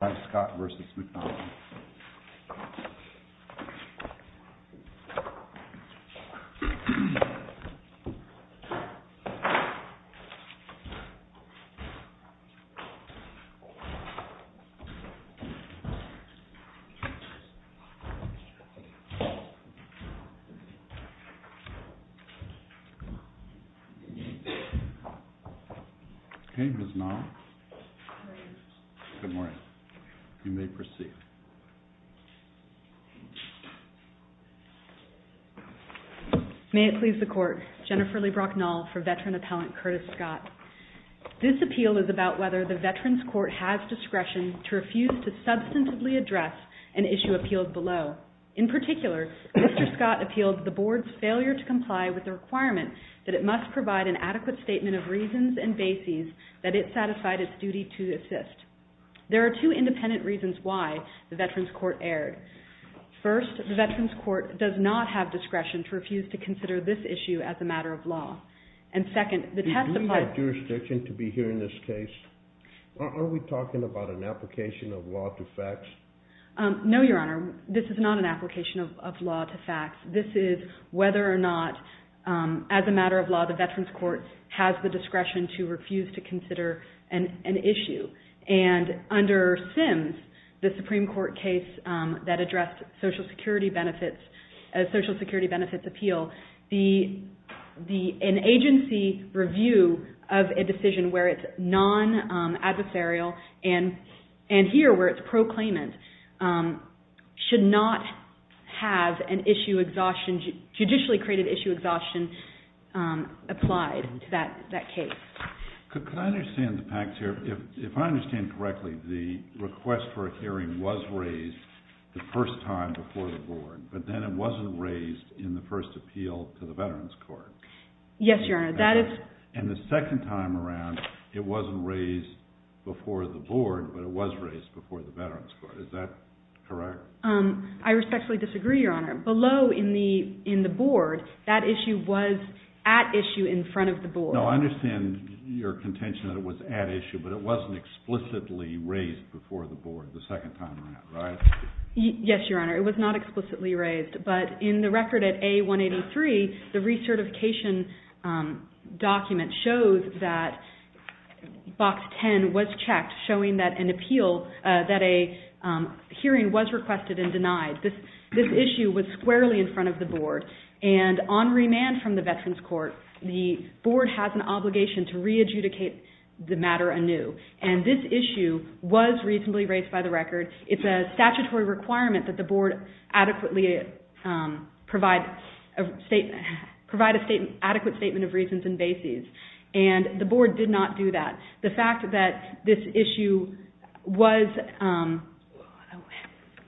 by Scott v. McDonald Okay, who's now? Good morning. You may proceed. May it please the court, Jennifer Leigh Brocknall for Veteran Appellant Curtis Scott. This appeal is about whether the Veterans Court has discretion to refuse to substantively address an issue appealed below. In particular, Mr. Scott appealed the Board's failure to comply with the requirement that it must provide an adequate statement of reasons and bases that it satisfied its duty to assist. There are two independent reasons why the Veterans Court erred. First, the Veterans Court does not have discretion to refuse to consider this issue as a matter of law. And second, the testified... Do we have jurisdiction to be hearing this case? Are we talking about an application of law to facts? No, Your Honor. This is not an application of law to facts. This is whether or not, as a matter of law, the Veterans Court has the discretion to refuse to consider an issue. And under SIMS, the Supreme Court case that addressed social security benefits, a social security benefits appeal, an agency review of a decision where it's non-adversarial and here where it's proclaimant should not have an issue exhaustion, judicially created issue exhaustion applied to that case. Could I understand the facts here? If I understand correctly, the request for a hearing was raised the first time before the Board, but then it wasn't raised in the first appeal to the Veterans Court. Yes, Your Honor. That is... And the second time around, it wasn't raised before the Board, but it was raised before the Veterans Court. Is that correct? I respectfully disagree, Your Honor. Below in the Board, that issue was at issue in front of the Board. No, I understand your contention that it was at issue, but it wasn't explicitly raised before the Board the second time around, right? Yes, Your Honor. It was not explicitly raised. But in the record at A183, the recertification document shows that Box 10 was checked, showing that an appeal, that a hearing was requested and denied. This issue was squarely in front of the Board. And on remand from the Veterans Court, the Board has an obligation to re-adjudicate the matter anew. And this issue was reasonably raised by the record. It's a statutory requirement that the Board adequately provide an adequate statement of reasons and bases. And the Board did not do that. The fact that this issue was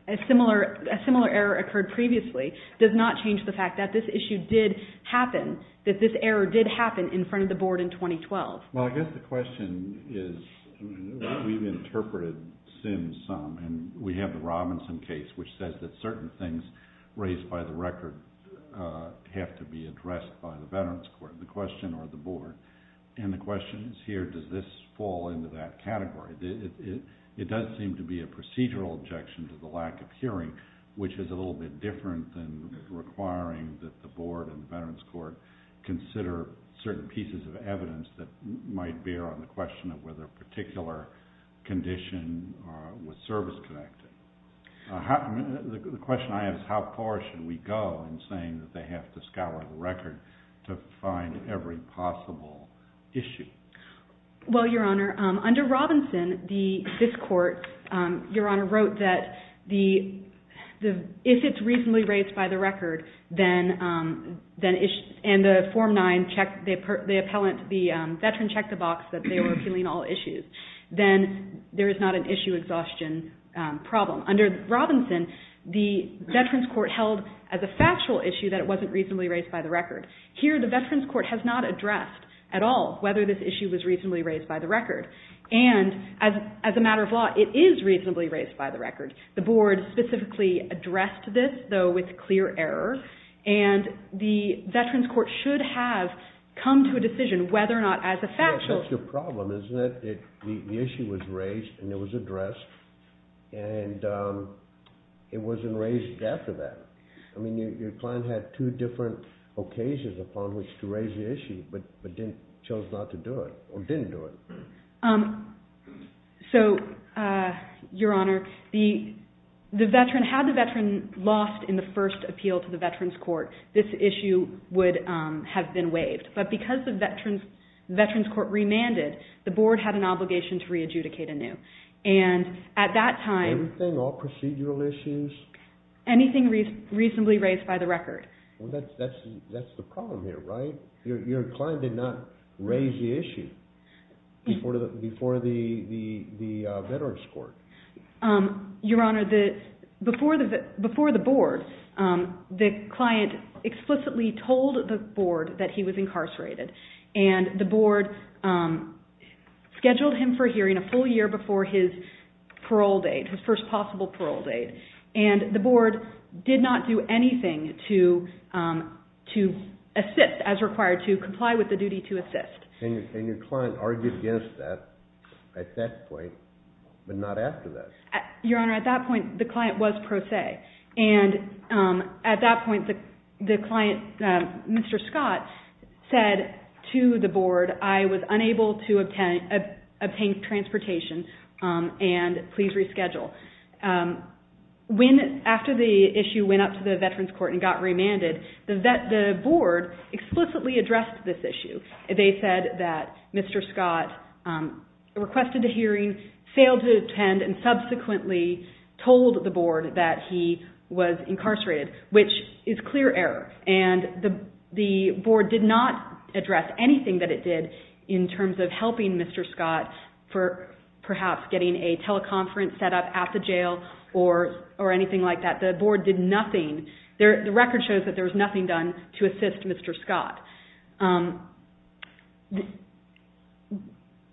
a similar error occurred previously, does not change the fact that this issue did happen, that this error did happen in front of the Board in 2012. Well, I guess the question is, we've interpreted Sims some, and we have the Robinson case which says that certain things raised by the record have to be addressed by the Veterans Court, the question or the Board. And the question is here, does this fall into that category? It does seem to be a procedural objection to the lack of hearing, which is a little bit different than requiring that the Board and the Veterans Court consider certain pieces of evidence that might bear on the question of whether a particular condition was service-connected. The question I have is, how far should we go in saying that they have to scour the record to find every possible issue? Well, Your Honor, under Robinson, this Court, Your Honor, wrote that if it's reasonably raised by the record, and the form 9, the appellant, the Veteran checked the box that they were appealing all issues, then there is not an issue exhaustion problem. Under Robinson, the Veterans Court held as a factual issue that it wasn't reasonably raised by the record. Here, the Veterans Court has not addressed at all whether this issue was reasonably raised by the record. And as a matter of law, it is reasonably raised by the record. The Board specifically addressed this, though with clear error, and the Veterans Court should have come to a decision whether or not as a factual issue. The issue was raised, and it was addressed, and it wasn't raised after that. I mean, your client had two different occasions upon which to raise the issue, but chose not to do it, or didn't do it. So, Your Honor, had the Veteran lost in the first appeal to the Veterans Court, this issue would have been waived. But because the Veterans Court remanded, the Board had an obligation to re-adjudicate anew. And at that time... Everything? All procedural issues? Anything reasonably raised by the record. Well, that's the problem here, right? Your client did not raise the issue before the Veterans Court. Your Honor, before the Board, the client explicitly told the Board that he was incarcerated. And the Board scheduled him for hearing a full year before his parole date, his first possible parole date. And the Board did not do anything to assist, as required to comply with the duty to assist. And your client argued against that at that point, but not after that. Your Honor, at that point, the client was pro se. And at that point, the client, Mr. Scott, said to the Board, I was unable to obtain transportation, and please reschedule. After the issue went up to the Veterans Court and got remanded, the Board explicitly addressed this issue. They said that Mr. Scott requested a hearing, failed to attend, and subsequently told the Board that he was incarcerated, which is clear error. And the Board did not address anything that it did in terms of helping Mr. Scott for perhaps getting a teleconference set up at the jail or anything like that. The Board did nothing. The record shows that there was nothing done to assist Mr. Scott.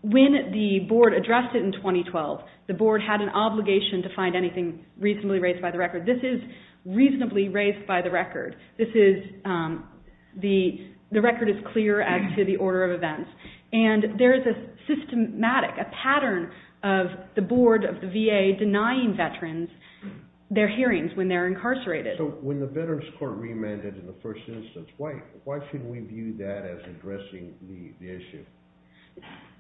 When the Board addressed it in 2012, the Board had an obligation to find anything reasonably raised by the record. This is reasonably raised by the record. The record is clear as to the order of events. And there is a systematic, a pattern of the Board, of the VA, denying veterans their hearings when they're incarcerated. So when the Veterans Court remanded in the first instance, why should we view that as addressing the issue?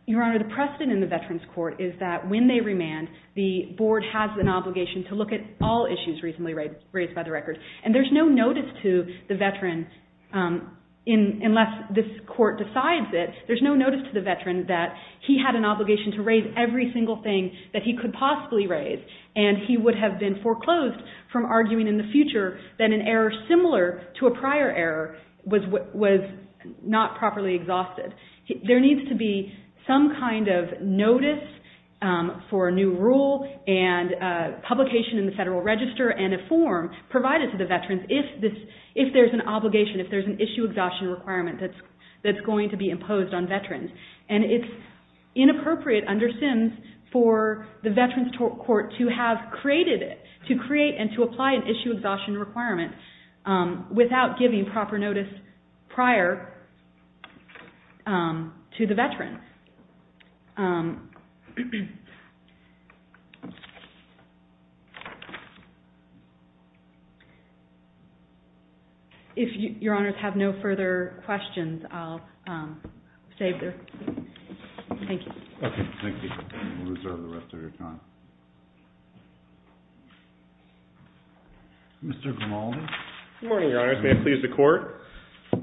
Your Honor, the precedent in the Veterans Court is that when they remand, the Board has an obligation to look at all issues reasonably raised by the record. And there's no notice to the veteran, unless this court decides it, there's no notice to the veteran that he had an obligation to raise every single thing that he could possibly raise. And he would have been foreclosed from arguing in the future that an error similar to a prior error was not properly exhausted. There needs to be some kind of notice for a new rule and publication in the Federal Register and a form provided to the veterans if there's an obligation, if there's an issue exhaustion requirement that's going to be imposed on veterans. And it's inappropriate under SIMS for the Veterans Court to have created, to create and to apply an issue exhaustion requirement without giving proper notice prior to the veterans. If Your Honors have no further questions, I'll save there. Thank you. Okay. Thank you. We'll reserve the rest of your time. Mr. Grimaldi. Good morning, Your Honors. May it please the Court.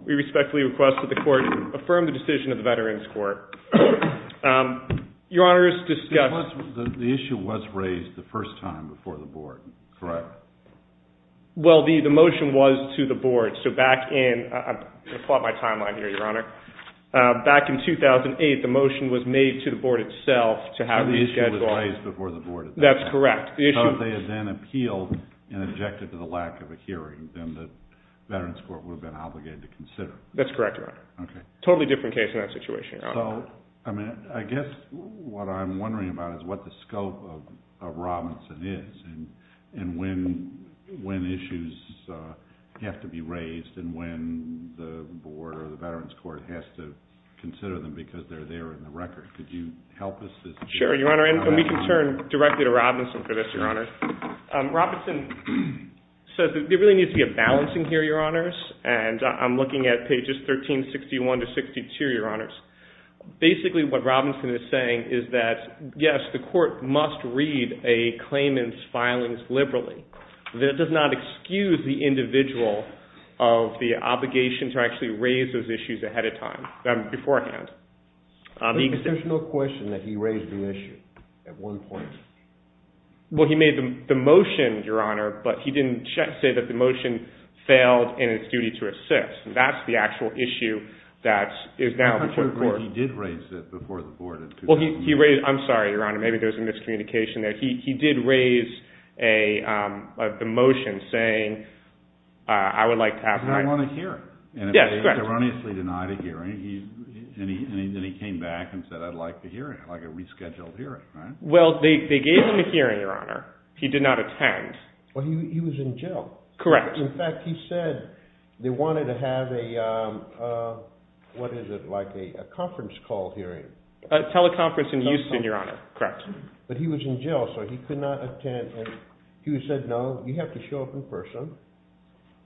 We respectfully request that the Court affirm the decision of the Veterans Court Your Honors, discuss. The issue was raised the first time before the Board, correct? Well, the motion was to the Board. So back in, I'm going to plot my timeline here, Your Honor. Back in 2008, the motion was made to the Board itself to have the schedule. So the issue was raised before the Board at that time. That's correct. So if they had then appealed and objected to the lack of a hearing, then the Veterans Court would have been obligated to consider. That's correct, Your Honor. Totally different case in that situation, Your Honor. So I guess what I'm wondering about is what the scope of Robinson is and when issues have to be raised and when the Board or the Veterans Court has to consider them because they're there in the record. Could you help us with that? Sure, Your Honor. And we can turn directly to Robinson for this, Your Honor. Robinson says that there really needs to be a balancing here, Your Honors. And I'm looking at pages 1361 to 1362, Your Honors. Basically what Robinson is saying is that, yes, the court must read a claimant's filings liberally. That does not excuse the individual of the obligation to actually raise those issues ahead of time, beforehand. There's no question that he raised the issue at one point. Well, he made the motion, Your Honor, but he didn't say that the motion failed in its duty to assist. That's the actual issue that is now before the Board. He did raise it before the Board. Well, he raised it. I'm sorry, Your Honor. Maybe there's a miscommunication there. He did raise the motion saying, I would like to ask my---- Because I want to hear it. Yes, correct. And he erroneously denied a hearing, and then he came back and said, I'd like to hear it, like a rescheduled hearing. Well, they gave him a hearing, Your Honor. He did not attend. Well, he was in jail. Correct. In fact, he said they wanted to have a, what is it, like a conference call hearing. A teleconference in Houston, Your Honor. Correct. But he was in jail, so he could not attend, and he said, no, you have to show up in person,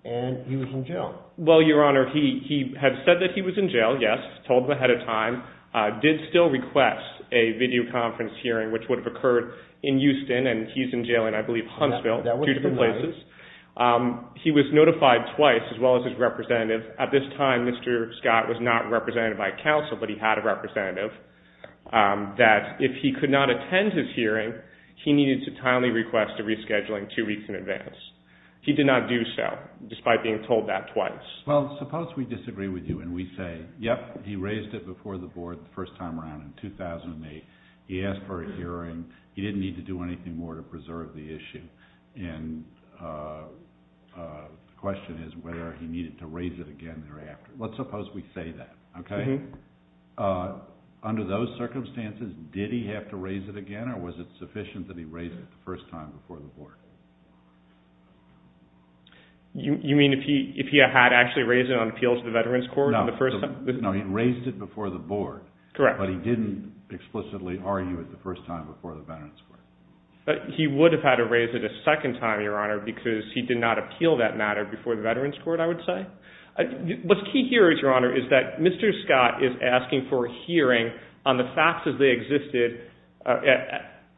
and he was in jail. Well, Your Honor, he had said that he was in jail, yes, told them ahead of time, did still request a videoconference hearing, which would have occurred in Houston, and he's in jail in, I believe, Huntsville, two different places. He was notified twice, as well as his representative. At this time, Mr. Scott was not represented by counsel, but he had a representative, that if he could not attend his hearing, he needed to timely request a rescheduling two weeks in advance. He did not do so, despite being told that twice. Well, suppose we disagree with you and we say, yep, he raised it before the Board the first time around in 2008. He asked for a hearing. He didn't need to do anything more to preserve the issue, and the question is whether he needed to raise it again thereafter. Let's suppose we say that, okay? Under those circumstances, did he have to raise it again, or was it sufficient that he raised it the first time before the Board? You mean if he had actually raised it on appeal to the Veterans Court the first time? No, he raised it before the Board. Correct. But he didn't explicitly argue it the first time before the Veterans Court. He would have had to raise it a second time, Your Honor, because he did not appeal that matter before the Veterans Court, I would say. What's key here, Your Honor, is that Mr. Scott is asking for a hearing on the facts as they existed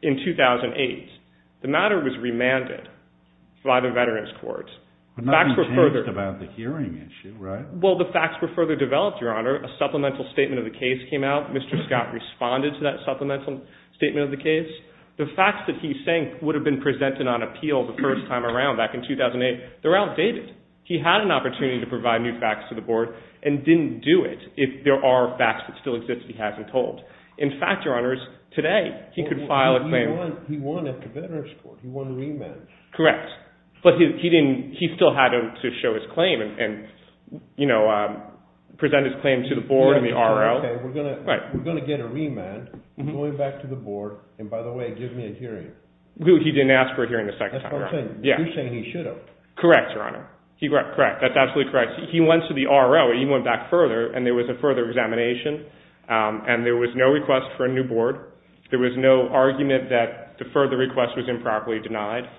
in 2008. The matter was remanded by the Veterans Court. But nothing changed about the hearing issue, right? Well, the facts were further developed, Your Honor. After a supplemental statement of the case came out, Mr. Scott responded to that supplemental statement of the case. The facts that he's saying would have been presented on appeal the first time around back in 2008, they're outdated. He had an opportunity to provide new facts to the Board and didn't do it if there are facts that still exist that he hasn't told. In fact, Your Honors, today he could file a claim. He won at the Veterans Court. He won remand. Correct. But he still had to show his claim and present his claim to the Board and the R.O. We're going to get a remand. I'm going back to the Board. And by the way, give me a hearing. He didn't ask for a hearing a second time, Your Honor. You're saying he should have. Correct, Your Honor. Correct. That's absolutely correct. He went to the R.O. He went back further, and there was a further examination. There was no argument that the further request was improperly denied.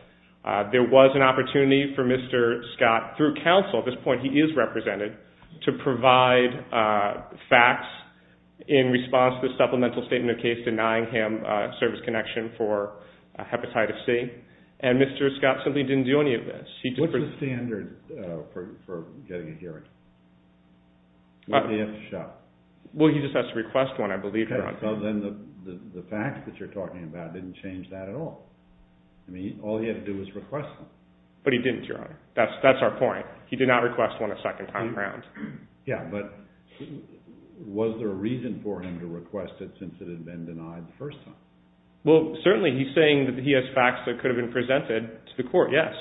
There was an opportunity for Mr. Scott, through counsel, at this point he is represented, to provide facts in response to the supplemental statement of case denying him service connection for Hepatitis C. And Mr. Scott simply didn't do any of this. What's the standard for getting a hearing? He has to show. Well, he just has to request one, I believe, Your Honor. Then the facts that you're talking about didn't change that at all. I mean, all he had to do was request one. But he didn't, Your Honor. That's our point. He did not request one a second time around. Yeah, but was there a reason for him to request it since it had been denied the first time? Well, certainly he's saying that he has facts that could have been presented to the court, yes.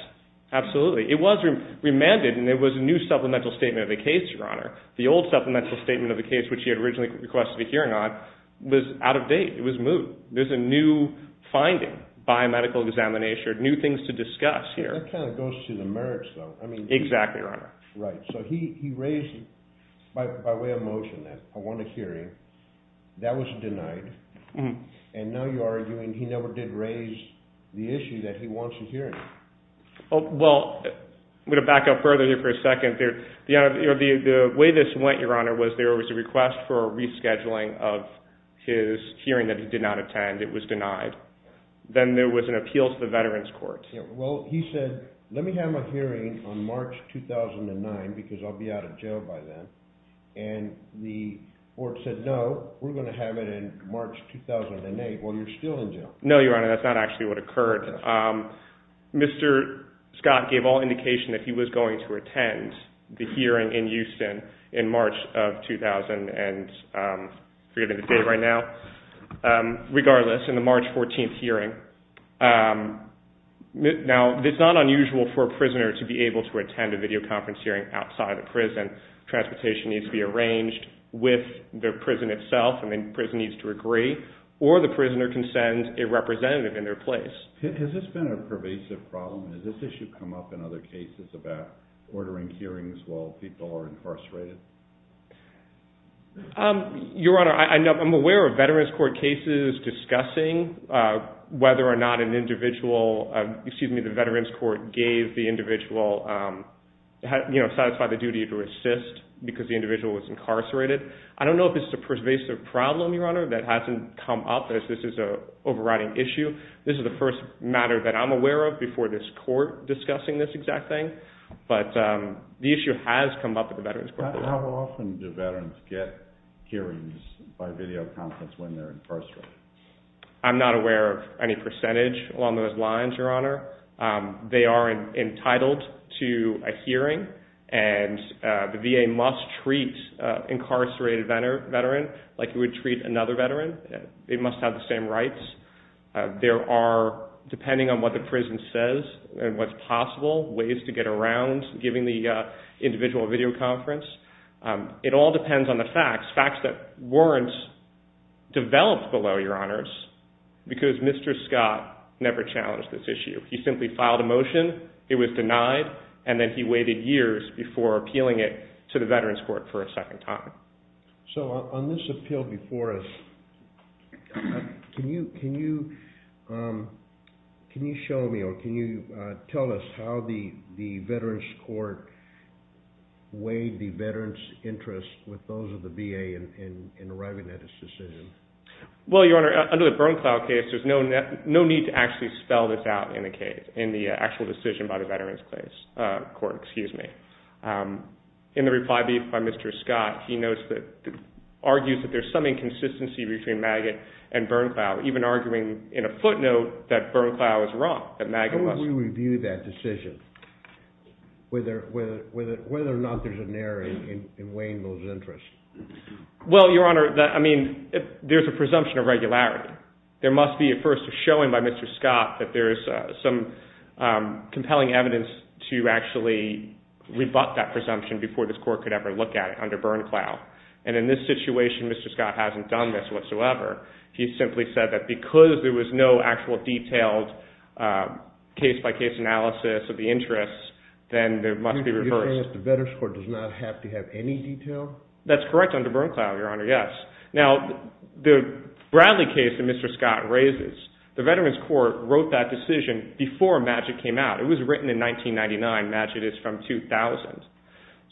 Absolutely. It was remanded, and there was a new supplemental statement of the case, Your Honor. The old supplemental statement of the case, which he had originally requested a hearing on, was out of date. It was moved. So there's a new finding by medical examination, new things to discuss here. That kind of goes to the merits, though. Exactly, Your Honor. Right. So he raised, by way of motion, that I want a hearing. That was denied. And now you're arguing he never did raise the issue that he wants a hearing. Well, I'm going to back up further here for a second. The way this went, Your Honor, was there was a request for a rescheduling of his hearing that he did not attend. It was denied. Then there was an appeal to the Veterans Court. Well, he said, let me have my hearing on March 2009 because I'll be out of jail by then. And the court said, no, we're going to have it in March 2008 while you're still in jail. No, Your Honor, that's not actually what occurred. Mr. Scott gave all indication that he was going to attend the hearing in Houston in March of 2000, and I'm forgetting the date right now. Regardless, in the March 14th hearing. Now, it's not unusual for a prisoner to be able to attend a videoconference hearing outside a prison. Transportation needs to be arranged with the prison itself, and the prison needs to agree. Or the prisoner can send a representative in their place. Has this been a pervasive problem? Has this issue come up in other cases about ordering hearings while people are incarcerated? Your Honor, I'm aware of Veterans Court cases discussing whether or not an individual, excuse me, the Veterans Court gave the individual, you know, satisfied the duty to assist because the individual was incarcerated. I don't know if this is a pervasive problem, Your Honor, that hasn't come up. This is an overriding issue. This is the first matter that I'm aware of before this court discussing this exact thing. But the issue has come up at the Veterans Court. How often do veterans get hearings by videoconference when they're incarcerated? I'm not aware of any percentage along those lines, Your Honor. They are entitled to a hearing, and the VA must treat an incarcerated veteran like it would treat another veteran. They must have the same rights. There are, depending on what the prison says and what's possible, ways to get around giving the individual a videoconference. It all depends on the facts, facts that weren't developed below, Your Honors, because Mr. Scott never challenged this issue. He simply filed a motion. It was denied, and then he waited years before appealing it to the Veterans Court for a second time. So on this appeal before us, can you show me or can you tell us how the Veterans Court weighed the veterans' interest with those of the VA in arriving at this decision? Well, Your Honor, under the Bernklau case, there's no need to actually spell this out in the case, in the actual decision by the Veterans Court. In the reply brief by Mr. Scott, he argues that there's some inconsistency between Maggott and Bernklau, even arguing in a footnote that Bernklau is wrong. How would we review that decision, whether or not there's an error in weighing those interests? Well, Your Honor, I mean, there's a presumption of regularity. There must be, at first, a showing by Mr. Scott that there's some compelling evidence to actually rebut that presumption before this Court could ever look at it under Bernklau. And in this situation, Mr. Scott hasn't done this whatsoever. He simply said that because there was no actual detailed case-by-case analysis of the interests, then there must be reverse. You're saying that the Veterans Court does not have to have any detail? That's correct under Bernklau, Your Honor, yes. Now, the Bradley case that Mr. Scott raises, the Veterans Court wrote that decision before Maggott came out. It was written in 1999. Maggott is from 2000.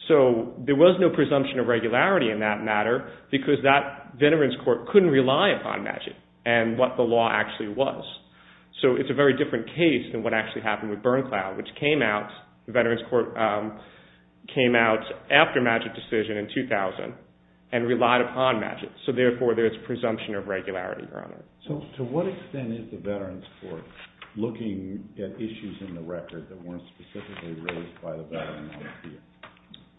So there was no presumption of regularity in that matter because that Veterans Court couldn't rely upon Maggott and what the law actually was. So it's a very different case than what actually happened with Bernklau, which came out, the Veterans Court came out after Maggott's decision in 2000 and relied upon Maggott. So therefore, there's presumption of regularity, Your Honor. So to what extent is the Veterans Court looking at issues in the record that weren't specifically raised by the Veterans Office here?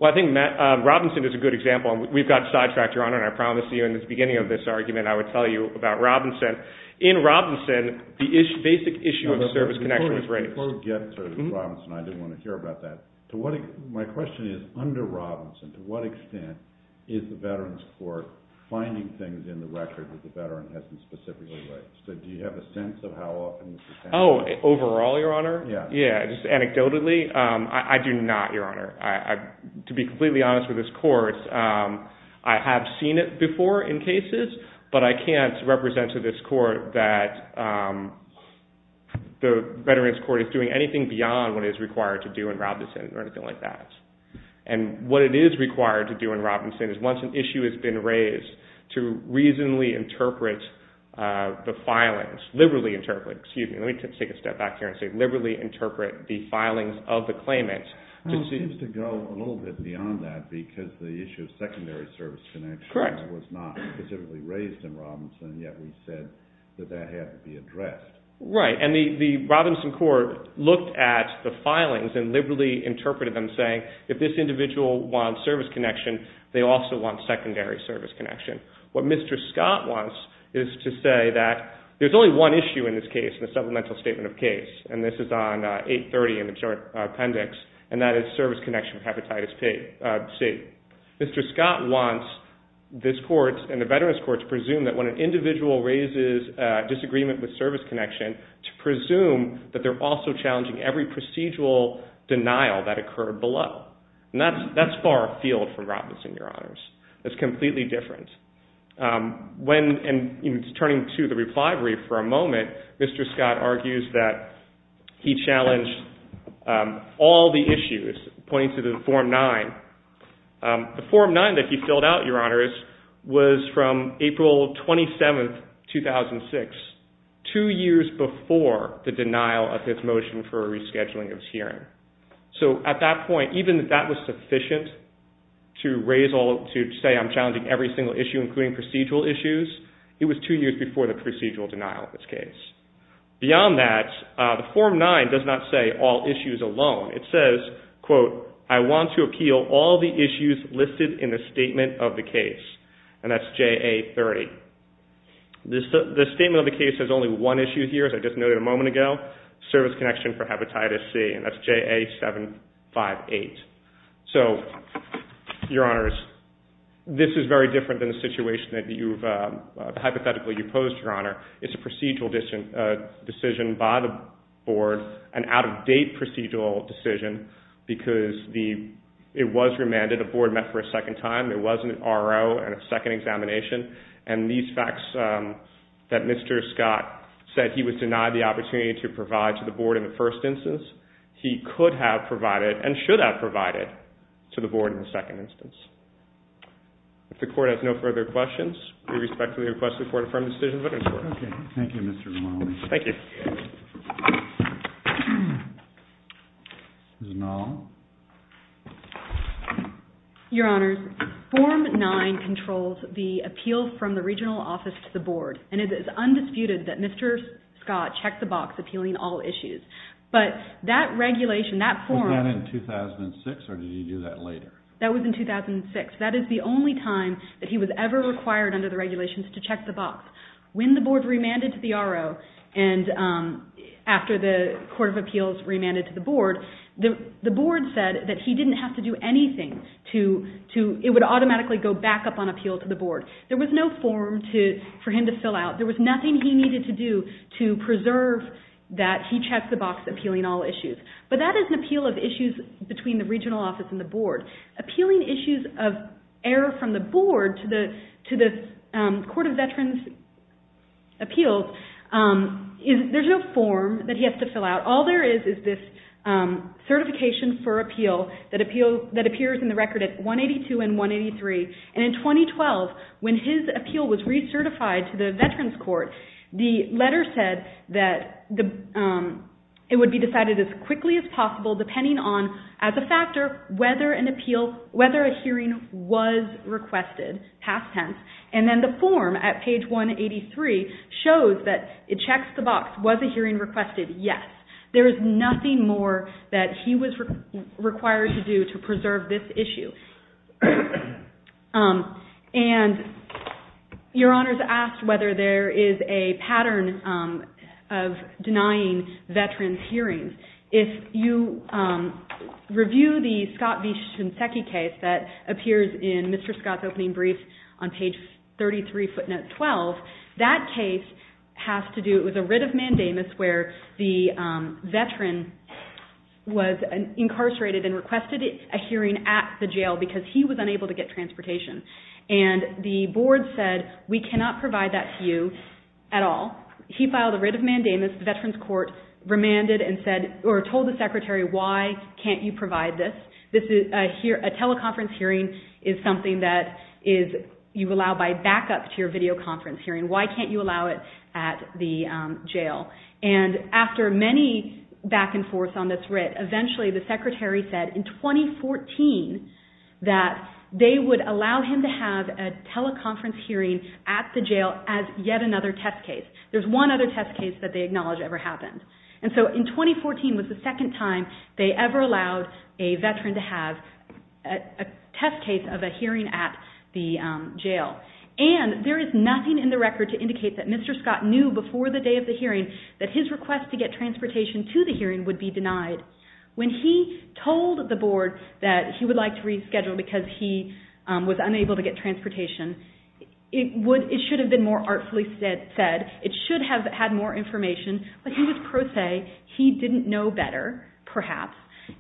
Well, I think Robinson is a good example. We've got sidetracked, Your Honor, and I promise you in the beginning of this argument I would tell you about Robinson. In Robinson, the basic issue of service connection was raised. Before we get to Robinson, I didn't want to hear about that. My question is, under Robinson, to what extent is the Veterans Court finding things in the record that the veteran hasn't specifically raised? Do you have a sense of how often this is happening? Oh, overall, Your Honor? Yeah. Yeah, just anecdotally, I do not, Your Honor. To be completely honest with this Court, I have seen it before in cases, but I can't represent to this Court that the Veterans Court is doing anything beyond what is required to do in Robinson or anything like that. And what it is required to do in Robinson is once an issue has been raised, to reasonably interpret the filings, excuse me, let me take a step back here and say liberally interpret the filings of the claimant. It seems to go a little bit beyond that because the issue of secondary service connection was not specifically raised in Robinson, yet we said that that had to be addressed. Right, and the Robinson Court looked at the filings and liberally interpreted them, saying if this individual wants service connection, they also want secondary service connection. What Mr. Scott wants is to say that there's only one issue in this case in the Supplemental Statement of Case, and this is on 830 in the Appendix, and that is service connection with hepatitis C. Mr. Scott wants this Court and the Veterans Court to presume that when an individual raises disagreement with service connection, to presume that they're also challenging every procedural denial that occurred below. And that's far afield from Robinson, Your Honors. That's completely different. When, and turning to the reply brief for a moment, Mr. Scott argues that he challenged all the issues pointing to the Form 9. The Form 9 that he filled out, Your Honors, was from April 27, 2006, two years before the denial of his motion for rescheduling of his hearing. So at that point, even if that was sufficient to say I'm challenging every single issue, including procedural issues, it was two years before the procedural denial of this case. Beyond that, the Form 9 does not say all issues alone. It says, quote, I want to appeal all the issues listed in the Statement of the Case, and that's JA 30. The Statement of the Case has only one issue here, as I just noted a moment ago, service connection for hepatitis C, and that's JA 758. So, Your Honors, this is very different than the situation that you've hypothetically opposed, Your Honor. It's a procedural decision by the Board, an out-of-date procedural decision, because it was remanded. The Board met for a second time. There wasn't an R.O. and a second examination. And these facts that Mr. Scott said he was denied the opportunity to provide to the Board in the first instance, he could have provided and should have provided to the Board in the second instance. If the Court has no further questions, we respectfully request the Court affirm the decision. Thank you, Mr. Romali. Thank you. Ms. Nall. Your Honors, Form 9 controls the appeal from the regional office to the Board, and it is undisputed that Mr. Scott checked the box appealing all issues. But that regulation, that form… Was that in 2006, or did he do that later? That was in 2006. That is the only time that he was ever required under the regulations to check the box. When the Board remanded to the R.O. and after the Court of Appeals remanded to the Board, the Board said that he didn't have to do anything. It would automatically go back up on appeal to the Board. There was no form for him to fill out. There was nothing he needed to do to preserve that he checked the box appealing all issues. But that is an appeal of issues between the regional office and the Board. Appealing issues of error from the Board to the Court of Veterans' Appeals, there is no form that he has to fill out. All there is is this certification for appeal that appears in the record at 182 and 183. In 2012, when his appeal was recertified to the Veterans' Court, the letter said that it would be decided as quickly as possible, depending on, as a factor, whether a hearing was requested, past tense. And then the form at page 183 shows that it checks the box, was a hearing requested? Yes. There is nothing more that he was required to do to preserve this issue. And Your Honors asked whether there is a pattern of denying Veterans' hearings. If you review the Scott v. Shinseki case that appears in Mr. Scott's opening brief on page 33, footnote 12, that case has to do with a writ of mandamus where the veteran was incarcerated and requested a hearing at the jail because he was unable to get transportation. And the Board said, we cannot provide that to you at all. He filed a writ of mandamus. The Veterans' Court remanded or told the Secretary, why can't you provide this? A teleconference hearing is something that you allow by backup to your videoconference hearing. Why can't you allow it at the jail? And after many back and forth on this writ, eventually the Secretary said in 2014 that they would allow him to have a teleconference hearing at the jail as yet another test case. There's one other test case that they acknowledge ever happened. And so in 2014 was the second time they ever allowed a veteran to have a test case of a hearing at the jail. And there is nothing in the record to indicate that Mr. Scott knew before the day of the hearing that his request to get transportation to the hearing would be denied. When he told the Board that he would like to reschedule because he was unable to get transportation, it should have been more artfully said. It should have had more information. But he was pro se. He didn't know better, perhaps.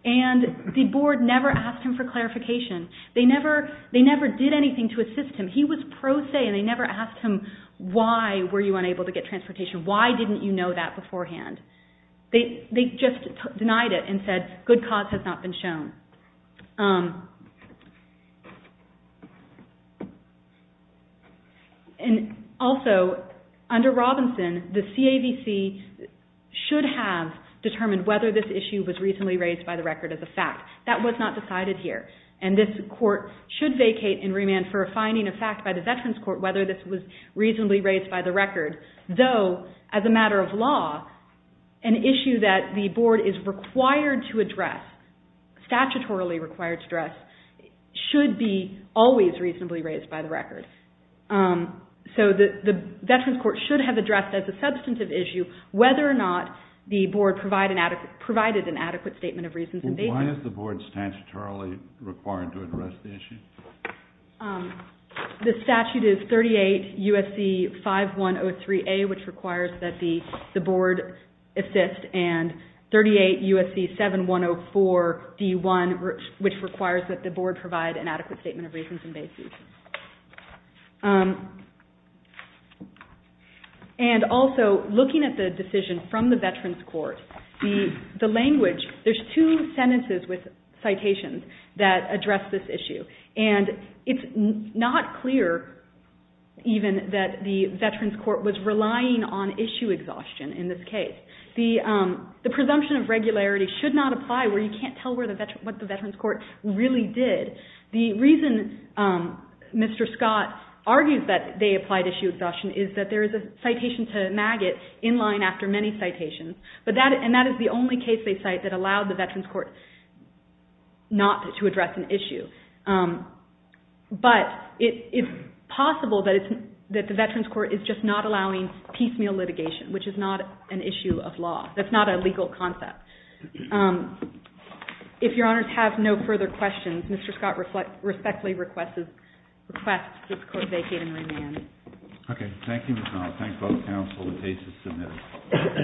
And the Board never asked him for clarification. They never did anything to assist him. He was pro se, and they never asked him, why were you unable to get transportation? Why didn't you know that beforehand? They just denied it and said good cause has not been shown. And also, under Robinson, the CAVC should have determined whether this issue was reasonably raised by the record as a fact. That was not decided here. And this Court should vacate in remand for a finding of fact by the Veterans Court whether this was reasonably raised by the record, though, as a matter of law, an issue that the Board is required to address, statutorily required to address, should be always reasonably raised by the record. So the Veterans Court should have addressed, as a substantive issue, whether or not the Board provided an adequate statement of reasons. Why is the Board statutorily required to address the issue? The statute is 38 U.S.C. 5103A, which requires that the Board assist, and 38 U.S.C. 7104D1, which requires that the Board provide an adequate statement of reasons in basis. And also, looking at the decision from the Veterans Court, the language, there's two sentences with citations that address this issue. And it's not clear, even, that the Veterans Court was relying on issue exhaustion in this case. The presumption of regularity should not apply where you can't tell what the Veterans Court really did. The reason Mr. Scott argues that they applied issue exhaustion is that there is a citation to maggot in line after many citations. And that is the only case, they cite, that allowed the Veterans Court not to address an issue. But it's possible that the Veterans Court is just not allowing piecemeal litigation, which is not an issue of law. That's not a legal concept. If Your Honors have no further questions, Mr. Scott respectfully requests this Court vacate and remand. Thank you. Okay. Thank you, Mr. Arnold. Thank both counsel. The case is submitted.